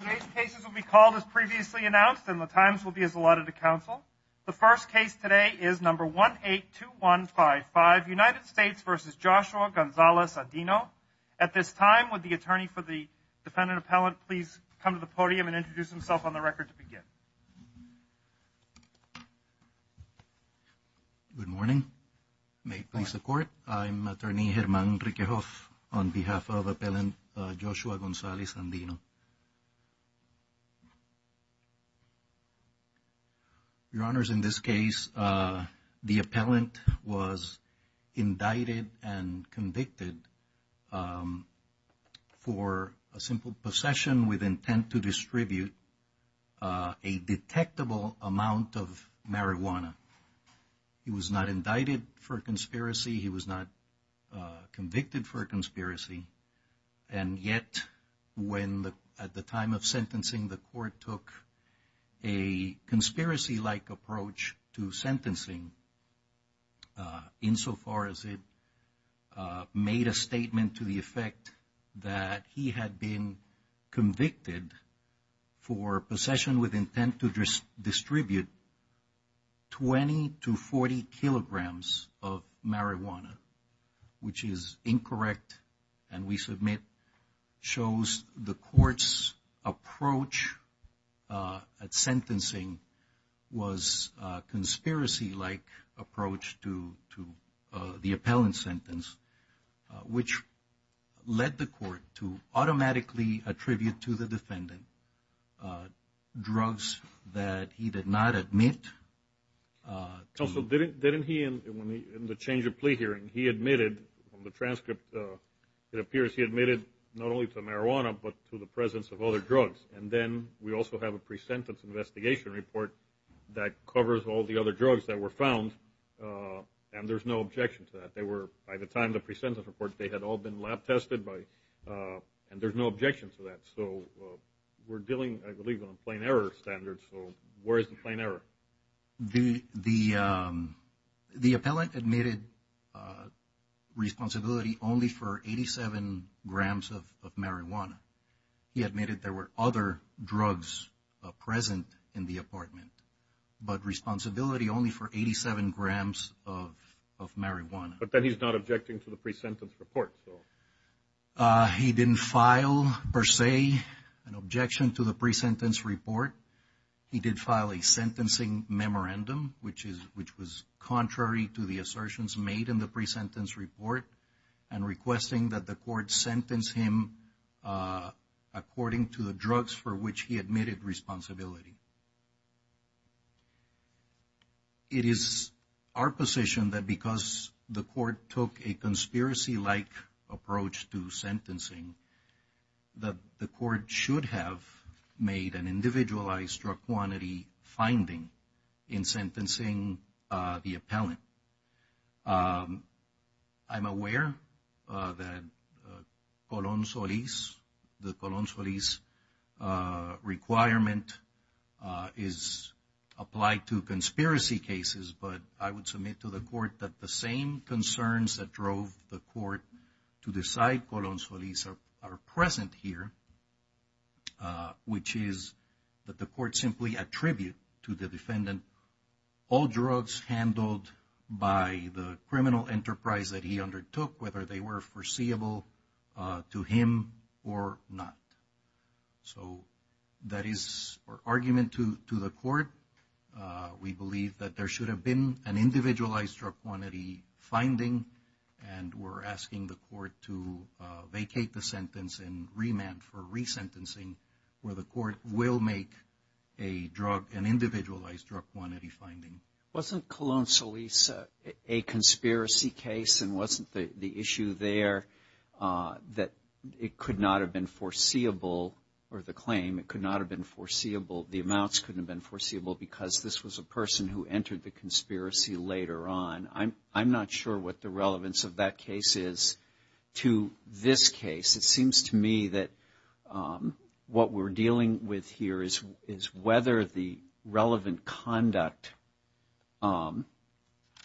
Today's cases will be called as previously announced and the times will be as allotted to council. The first case today is number 182155, United States v. Joshua Gonzalez-Andino. At this time, would the attorney for the defendant appellant please come to the podium and introduce himself on the record to begin. Good morning. May it please the court. I'm attorney Herman Rikehoff on behalf of Joshua Gonzalez-Andino. Your honors, in this case, the appellant was indicted and convicted for a simple possession with intent to distribute a detectable amount of marijuana. He was not indicted for a conspiracy. He was not convicted for a conspiracy. And yet, when at the time of sentencing, the court took a conspiracy-like approach to sentencing insofar as it made a statement to the effect that he had been convicted for possession with intent to distribute 20 to 40 kilograms of marijuana, which is incorrect, and we submit shows the court's approach at sentencing was a conspiracy-like approach to the appellant's sentence, which led the court to automatically attribute to the defendant drugs that he did not admit. Joshua Gonzalez-Also, didn't he, in the change of plea hearing, he admitted on the transcript, it appears he admitted not only to marijuana, but to the presence of other drugs. And then we also have a pre-sentence investigation report that covers all the other drugs that were found, and there's no objection to that. They were, by the time the pre-sentence report, they had all been lab-tested by, and there's no objection to that. So, we're dealing, I believe, on a plain error standard. So, where is the plain error? The appellant admitted responsibility only for 87 grams of marijuana. He admitted there were other of marijuana. But then he's not objecting to the pre-sentence report. He didn't file, per se, an objection to the pre-sentence report. He did file a sentencing memorandum, which was contrary to the assertions made in the pre-sentence report, and requesting that the court sentence him according to the drugs for which he admitted responsibility. It is our position that because the court took a conspiracy-like approach to sentencing, that the court should have made an individualized drug quantity finding in sentencing the appellant. I'm aware that the Colón-Solis requirement is applied to conspiracy cases, but I would submit to the court that the same concerns that drove the court to decide Colón-Solis are present here, which is that the court simply attribute to the defendant all drugs handled by the criminal enterprise that he undertook, whether they were foreseeable to him or not. So, that is our argument to the court. We believe that there should have been an individualized drug quantity finding, and we're asking the court to vacate the sentence and remand for resentencing, where the court will make an individualized drug quantity finding. Wasn't Colón-Solis a conspiracy case, and wasn't the issue there that it could not have been foreseeable, or the claim, it could not have been foreseeable, the amounts couldn't have been foreseeable? I'm not sure what the relevance of that case is to this case. It seems to me that what we're dealing with here is whether the relevant conduct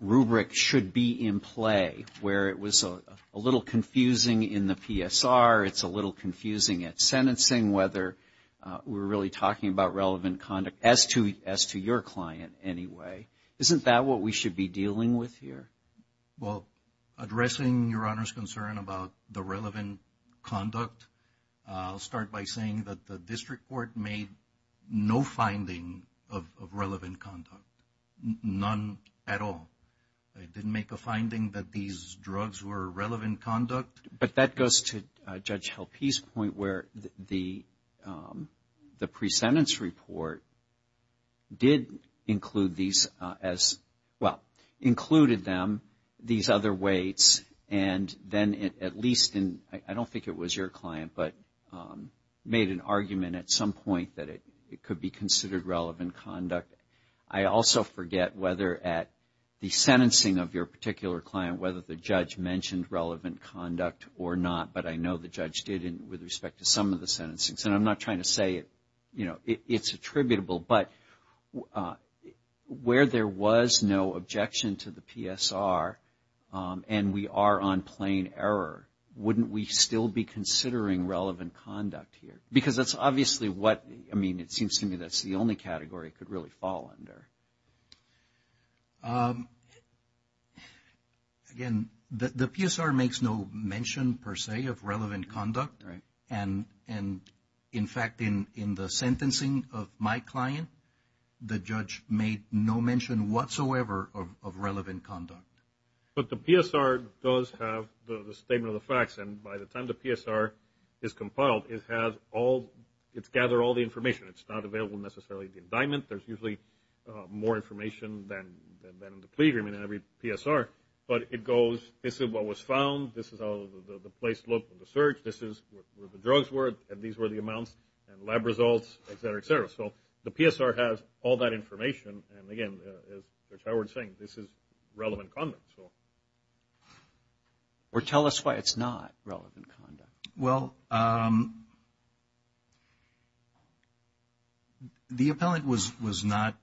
rubric should be in play, where it was a little confusing in the PSR, it's a little confusing at sentencing, whether we're really talking about relevant conduct, as to your client anyway. Isn't that what we should be dealing with here? Well, addressing Your Honor's concern about the relevant conduct, I'll start by saying that the district court made no finding of relevant conduct, none at all. They didn't make a finding that these drugs were relevant conduct. But that goes to Judge included them, these other weights, and then at least in, I don't think it was your client, but made an argument at some point that it could be considered relevant conduct. I also forget whether at the sentencing of your particular client, whether the judge mentioned relevant conduct or not, but I know the judge did with respect to some of the sentencing. And I'm not to say it's attributable, but where there was no objection to the PSR and we are on plain error, wouldn't we still be considering relevant conduct here? Because that's obviously what, I mean, it seems to me that's the only category it could really fall under. Again, the PSR makes no mention per se of relevant conduct. And in fact, in the sentencing of my client, the judge made no mention whatsoever of relevant conduct. But the PSR does have the statement of the facts. And by the time the PSR is compiled, it has all, it's gathered all the more information than in the plea agreement in every PSR. But it goes, this is what was found, this is how the place looked in the search, this is where the drugs were, and these were the amounts, and lab results, et cetera, et cetera. So the PSR has all that information. And again, as Judge Howard is saying, this is relevant conduct. Or tell us why it's not relevant conduct. Well, the appellant was not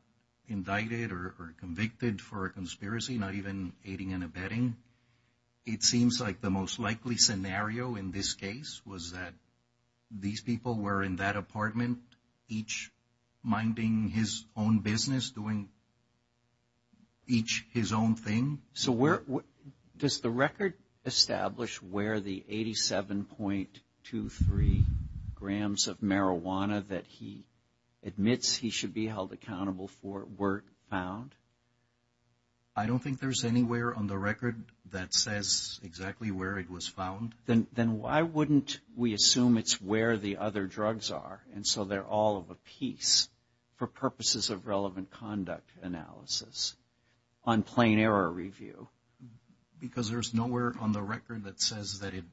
indicted or convicted for a conspiracy, not even aiding and abetting. It seems like the most likely scenario in this case was that these people were in that apartment, each minding his own business, doing each his own thing. So where, does the record establish where the 87.23 grams of marijuana that he admits he should be held accountable for were found? I don't think there's anywhere on the record that says exactly where it was found. Then why wouldn't we assume it's where the other drugs are, and so they're all of a piece for purposes of relevant conduct analysis on plain error review? Because there's nowhere on the record that says that it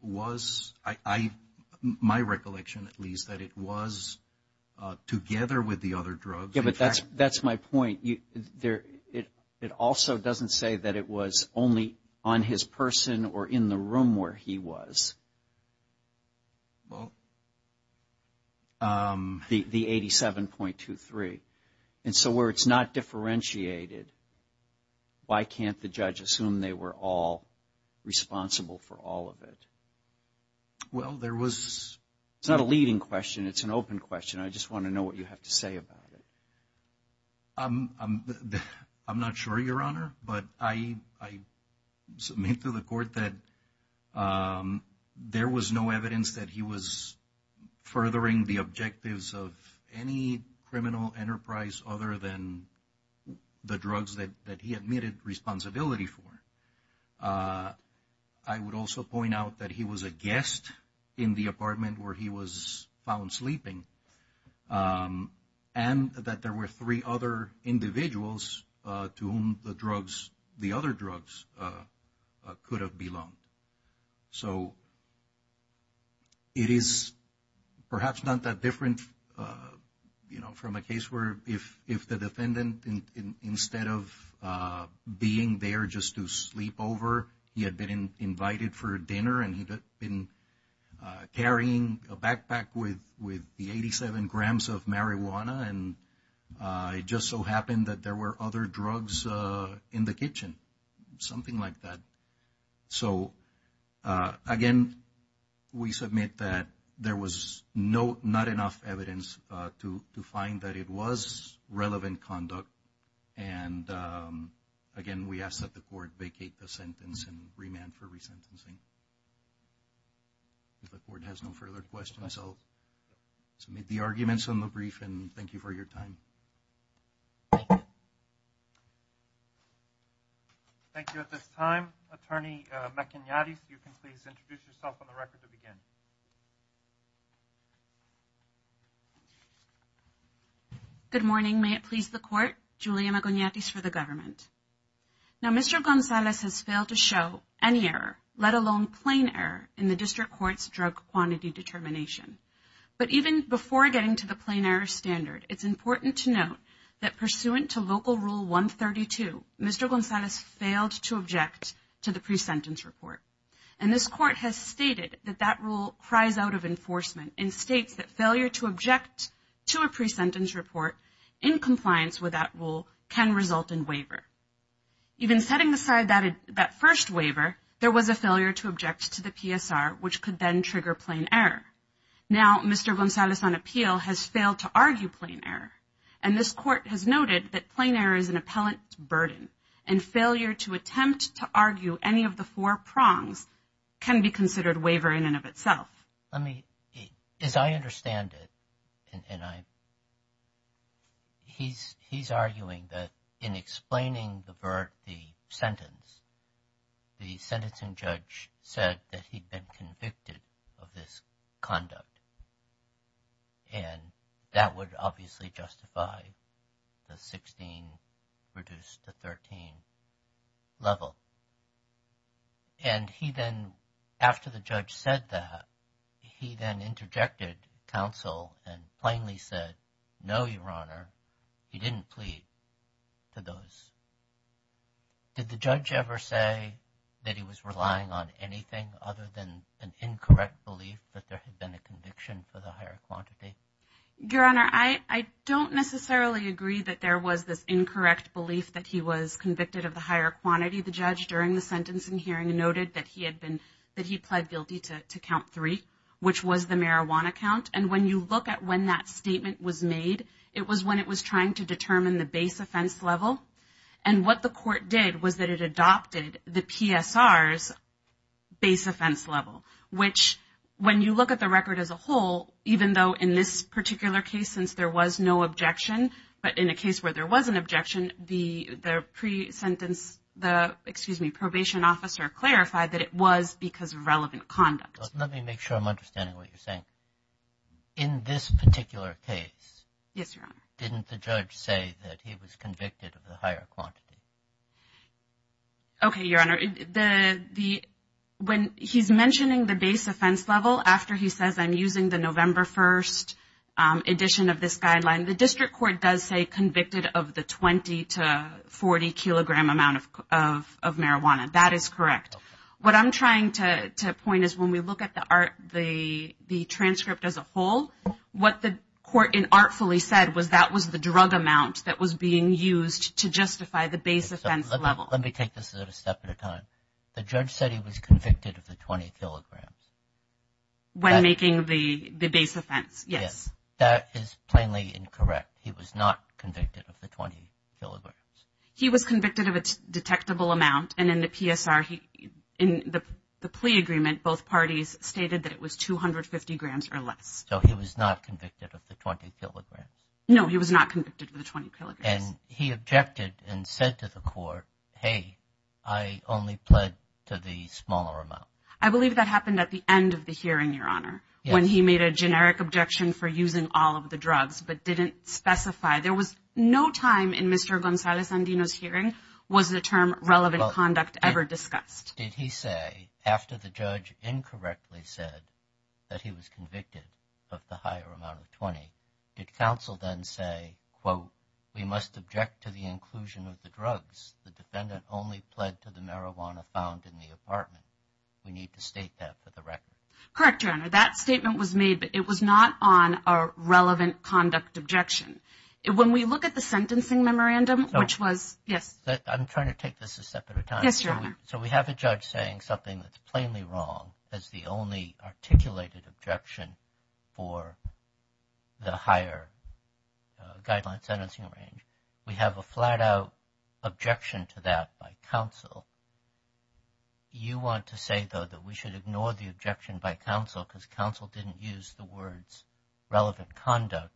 was, my recollection at least, that it was together with the other drugs. Yeah, but that's my point. It also doesn't say that it was only on his person or in the room where he was. The 87.23. And so where it's not differentiated, why can't the judge assume they were all responsible for all of it? Well, there was... It's not a leading question. It's an open question. I just want to know what you have to say about it. I'm not sure, Your Honor, but I submit to the court that there was no evidence that he was furthering the objectives of any criminal enterprise other than the drugs that he admitted responsibility for. I would also point out that he was a guest in the apartment where he was found sleeping. And that there were three other individuals to whom the other drugs could have belonged. So it is perhaps not that different from a case where if the defendant, instead of being there just to sleep over, he had been invited for dinner and he'd been carrying a marijuana. And it just so happened that there were other drugs in the kitchen, something like that. So again, we submit that there was not enough evidence to find that it was relevant conduct. And again, we ask that the court vacate the sentence and remand for resentencing. If the court has no further questions, I'll submit the arguments on the brief and thank you for your time. Thank you at this time. Attorney MacIgnatis, you can please introduce yourself on the record to begin. Good morning. May it please the court, Julia MacIgnatis for the government. Now, Mr. Gonzalez has failed to show any error, let alone plain error in the district court's drug quantity determination. But even before getting to the plain error standard, it's important to note that pursuant to Local Rule 132, Mr. Gonzalez failed to object to the pre-sentence report. And this court has stated that that rule cries out of enforcement and states that failure to object to a pre-sentence report in compliance with that rule can result in waiver. Even setting aside that first waiver, there was a failure to object to the PSR, which could then trigger plain error. Now, Mr. Gonzalez, on appeal, has failed to argue plain error. And this court has noted that plain error is an appellant burden and failure to attempt to argue any of the four prongs can be considered waiver in and of itself. Let me, as I understand it, and I, he's arguing that in explaining the sentence, the sentencing judge said that he'd been convicted of this conduct. And that would obviously justify the 16 reduced to 13 level. And he then, after the judge said that, he then interjected counsel and plainly said, no, Your Honor, he didn't plead to those. Did the judge ever say that he was relying on anything other than an incorrect belief that there had been a conviction for the higher quantity? Your Honor, I don't necessarily agree that there was this incorrect belief that he was during the sentencing hearing and noted that he had been, that he pled guilty to count three, which was the marijuana count. And when you look at when that statement was made, it was when it was trying to determine the base offense level. And what the court did was that it adopted the PSR's base offense level, which when you look at the record as a whole, even though in this particular case, since there was no objection, but in a case where there was an probation officer clarified that it was because of relevant conduct. Let me make sure I'm understanding what you're saying. In this particular case, didn't the judge say that he was convicted of the higher quantity? Okay, Your Honor. When he's mentioning the base offense level, after he says I'm using the November 1st edition of this guideline, the district court does say convicted of the 20 to 40 kilogram amount of marijuana. That is correct. What I'm trying to point is when we look at the transcript as a whole, what the court artfully said was that was the drug amount that was being used to justify the base offense level. Let me take this at a step at a time. The judge said he was convicted of the 20 kilograms. When making the base offense, yes. That is plainly incorrect. He was not convicted of the 20 kilograms. He was convicted of a detectable amount. In the PSR, in the plea agreement, both parties stated that it was 250 grams or less. He was not convicted of the 20 kilograms. No, he was not convicted of the 20 kilograms. He objected and said to the court, hey, I only pled to the smaller amount. I believe that happened at the end of the hearing, Your Honor, when he made a generic objection for no time in Mr. Gonzalez-Andino's hearing was the term relevant conduct ever discussed. Did he say, after the judge incorrectly said that he was convicted of the higher amount of 20, did counsel then say, quote, we must object to the inclusion of the drugs. The defendant only pled to the marijuana found in the apartment. We need to state that for the record. Correct, Your Honor. That statement was made, but it was not on a relevant conduct objection. When we look at the sentencing memorandum, which was, yes. I'm trying to take this a step at a time. Yes, Your Honor. So, we have a judge saying something that's plainly wrong as the only articulated objection for the higher guideline sentencing range. We have a flat out objection to that by counsel. You want to say, though, that we should ignore the objection by counsel because counsel didn't use the words relevant conduct,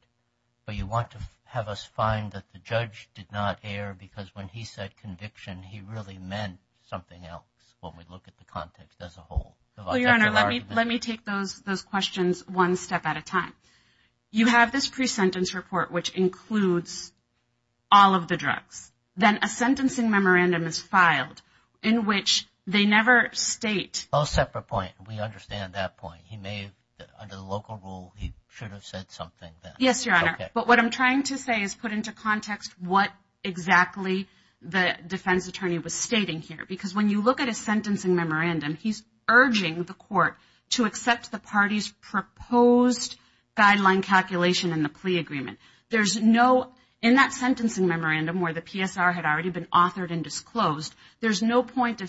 but you want to have us find that the judge did not err because when he said conviction, he really meant something else when we look at the context as a whole. Your Honor, let me take those questions one step at a time. You have this pre-sentence report, which includes all of the drugs. Then a sentencing memorandum is filed in which they never state. No separate point. We understand that point. He may, under the local rule, he should have said something. Yes, Your Honor. But what I'm trying to say is put into context what exactly the defense attorney was stating here. Because when you look at a sentencing memorandum, he's urging the court to accept the party's proposed guideline calculation in the plea agreement. There's no, in that sentencing memorandum where the PSR had already been authored and disclosed, there's no point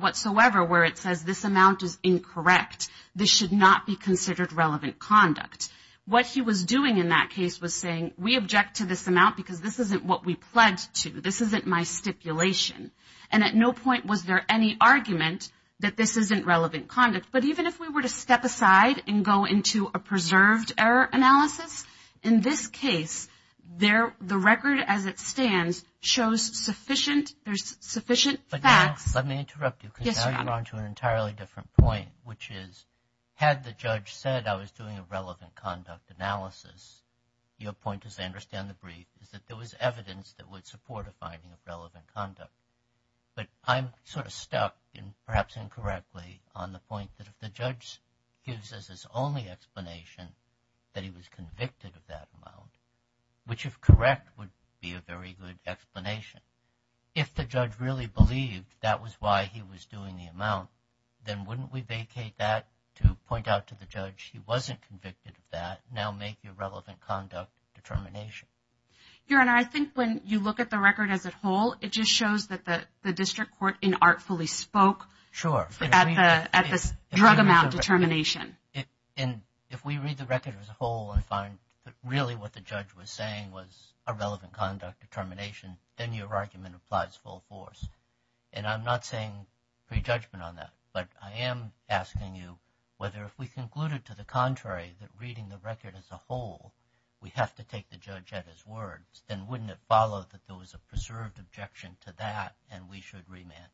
whatsoever where it says this amount is incorrect. This should not be considered relevant conduct. What he was doing in that case was saying, we object to this amount because this isn't what we pledged to. This isn't my stipulation. And at no point was there any argument that this isn't relevant conduct. But even if we were to step aside and go into a preserved error analysis, in this case, the record as it stands shows sufficient, there's sufficient facts. Let me interrupt you. Yes, Your Honor. Because now you're on to an entirely different point, which is, had the judge said I was doing a relevant conduct analysis, your point, as I understand the brief, is that there was evidence that would support a finding of relevant conduct. But I'm sort of stuck, perhaps incorrectly, on the point that if the judge gives us his explanation that he was convicted of that amount, which if correct would be a very good explanation, if the judge really believed that was why he was doing the amount, then wouldn't we vacate that to point out to the judge he wasn't convicted of that, now make your relevant conduct determination? Your Honor, I think when you look at the record as a whole, it just shows that the if we read the record as a whole and find that really what the judge was saying was a relevant conduct determination, then your argument applies full force. And I'm not saying prejudgment on that, but I am asking you whether if we concluded to the contrary that reading the record as a whole, we have to take the judge at his words, then wouldn't it follow that there was a preserved objection to that and we should remand?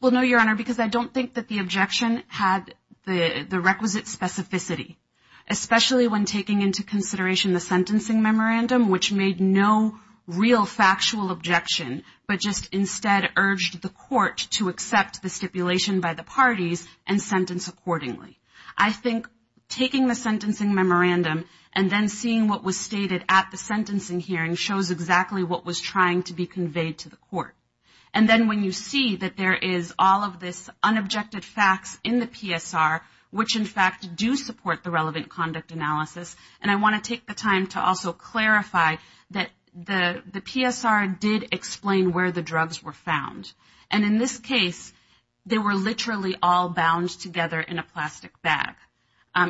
Well, no, Your Honor, because I don't think that the objection had the requisite specificity, especially when taking into consideration the sentencing memorandum, which made no real factual objection, but just instead urged the court to accept the stipulation by the parties and sentence accordingly. I think taking the sentencing memorandum and then seeing what was stated at the sentencing hearing shows exactly what was trying to be conveyed to the court. And then when you see that there is all of this unobjected facts in the PSR, which in fact do support the relevant conduct analysis, and I want to take the time to also clarify that the PSR did explain where the drugs were found. And in this case, they were literally all bound together in a plastic bag,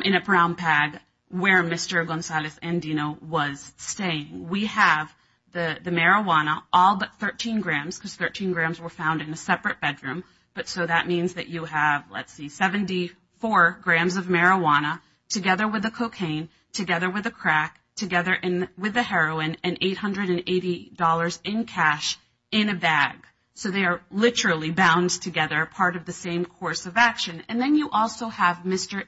in a brown pag, where Mr. Gonzalez-Andino was staying. We have the marijuana, all but 13 grams, because 13 grams were found in a separate bedroom. So that means that you have, let's see, 74 grams of marijuana, together with the cocaine, together with the crack, together with the heroin, and $880 in cash in a bag. So they are literally bound together, part of the same course of action. And then you also have Mr.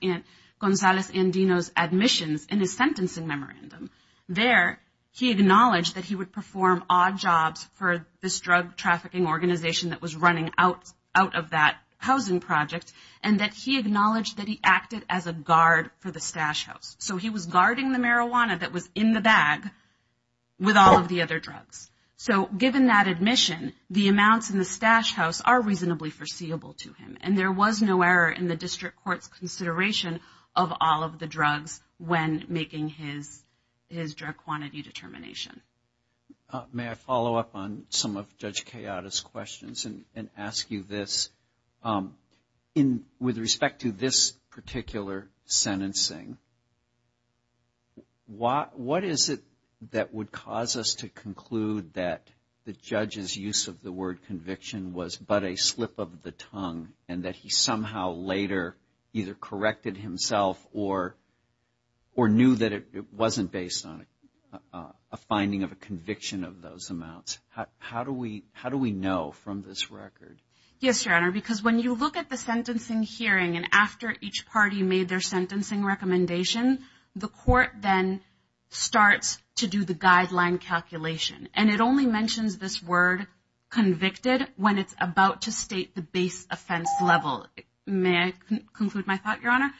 Gonzalez-Andino's admissions in his sentencing memorandum. There, he acknowledged that he would perform odd jobs for this drug trafficking organization that was running out of that housing project, and that he acknowledged that he acted as a guard for the stash house. So he was guarding the marijuana that was in the bag with all of the other drugs. So given that admission, the amounts in the stash house are reasonably foreseeable to him, and there was no error in the district court's consideration of all of the drugs when making his drug quantity determination. May I follow up on some of Judge Kayada's questions and ask you this? With respect to this particular sentencing, what is it that would cause us to conclude that the judge's use of the word conviction was but a slip of the tongue, and that he somehow later either corrected himself or knew that it wasn't based on a finding of a conviction of those amounts? How do we know from this record? Yes, Your Honor, because when you look at the sentencing hearing and after each party made their sentencing recommendation, the court then starts to do the guideline calculation. And it only mentions this word convicted when it's about to state the base offense level. May I conclude my thought, Your Honor?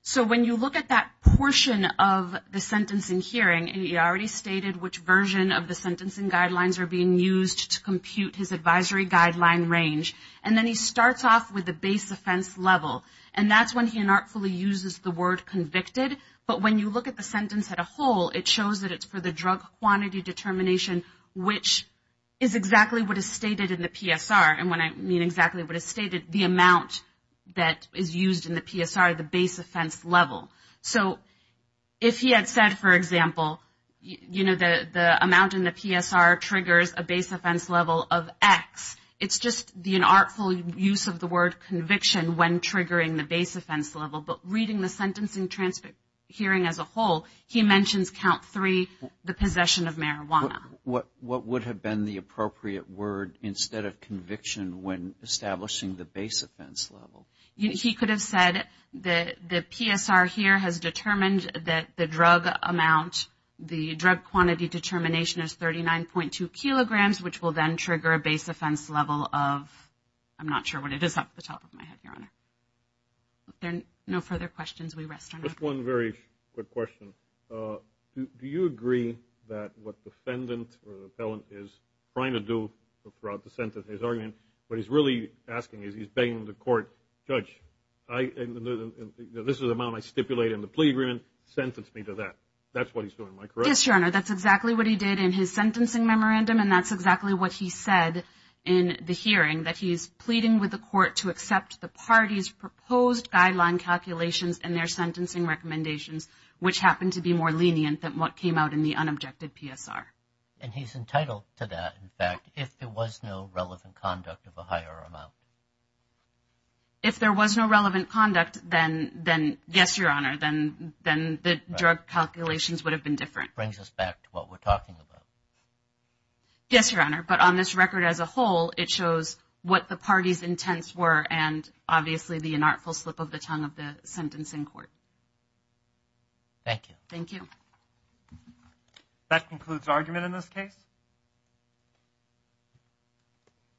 So when you look at that portion of the sentencing hearing, and he already stated which version of the sentencing guidelines are being used to compute his advisory guideline range, and then he starts off with the base offense level. And that's when he inartfully uses the word convicted. But when you look at the sentence as a whole, it shows that it's for the drug quantity determination, which is exactly what is stated in the PSR. And when I mean exactly what is stated, the amount that is used in the PSR, the base offense level. So if he had said, for example, you know, the amount in the PSR triggers a base offense level of x, it's just the inartful use of the word conviction when triggering the base offense level. But reading the sentencing transcript hearing as a whole, he mentions count three, the possession of marijuana. What would have been the appropriate word instead of conviction when establishing the base offense level? He could have said that the PSR here has determined that the drug amount, the drug quantity determination is 39.2 kilograms, which will then trigger a base offense level of, I'm not sure what it is off the top of my head, Your Honor. There are no further questions. We rest on that. Just one very quick question. Do you agree that what the defendant or the appellant is trying to do throughout the sentence, his argument, what he's really asking is he's begging the court, Judge, this is the amount I stipulate in the plea agreement, sentence me to that. That's what he's doing, am I correct? Yes, Your Honor. That's exactly what he did in his sentencing memorandum, and that's exactly what he said in the hearing, that he's pleading with the court to accept the party's sentencing recommendations, which happened to be more lenient than what came out in the unobjected PSR. And he's entitled to that, in fact, if there was no relevant conduct of a higher amount. If there was no relevant conduct, then yes, Your Honor, then the drug calculations would have been different. Brings us back to what we're talking about. Yes, Your Honor, but on this record as a whole, it shows what the party's intents were and obviously the inartful slip of the tongue of the sentencing court. Thank you. Thank you. That concludes argument in this case.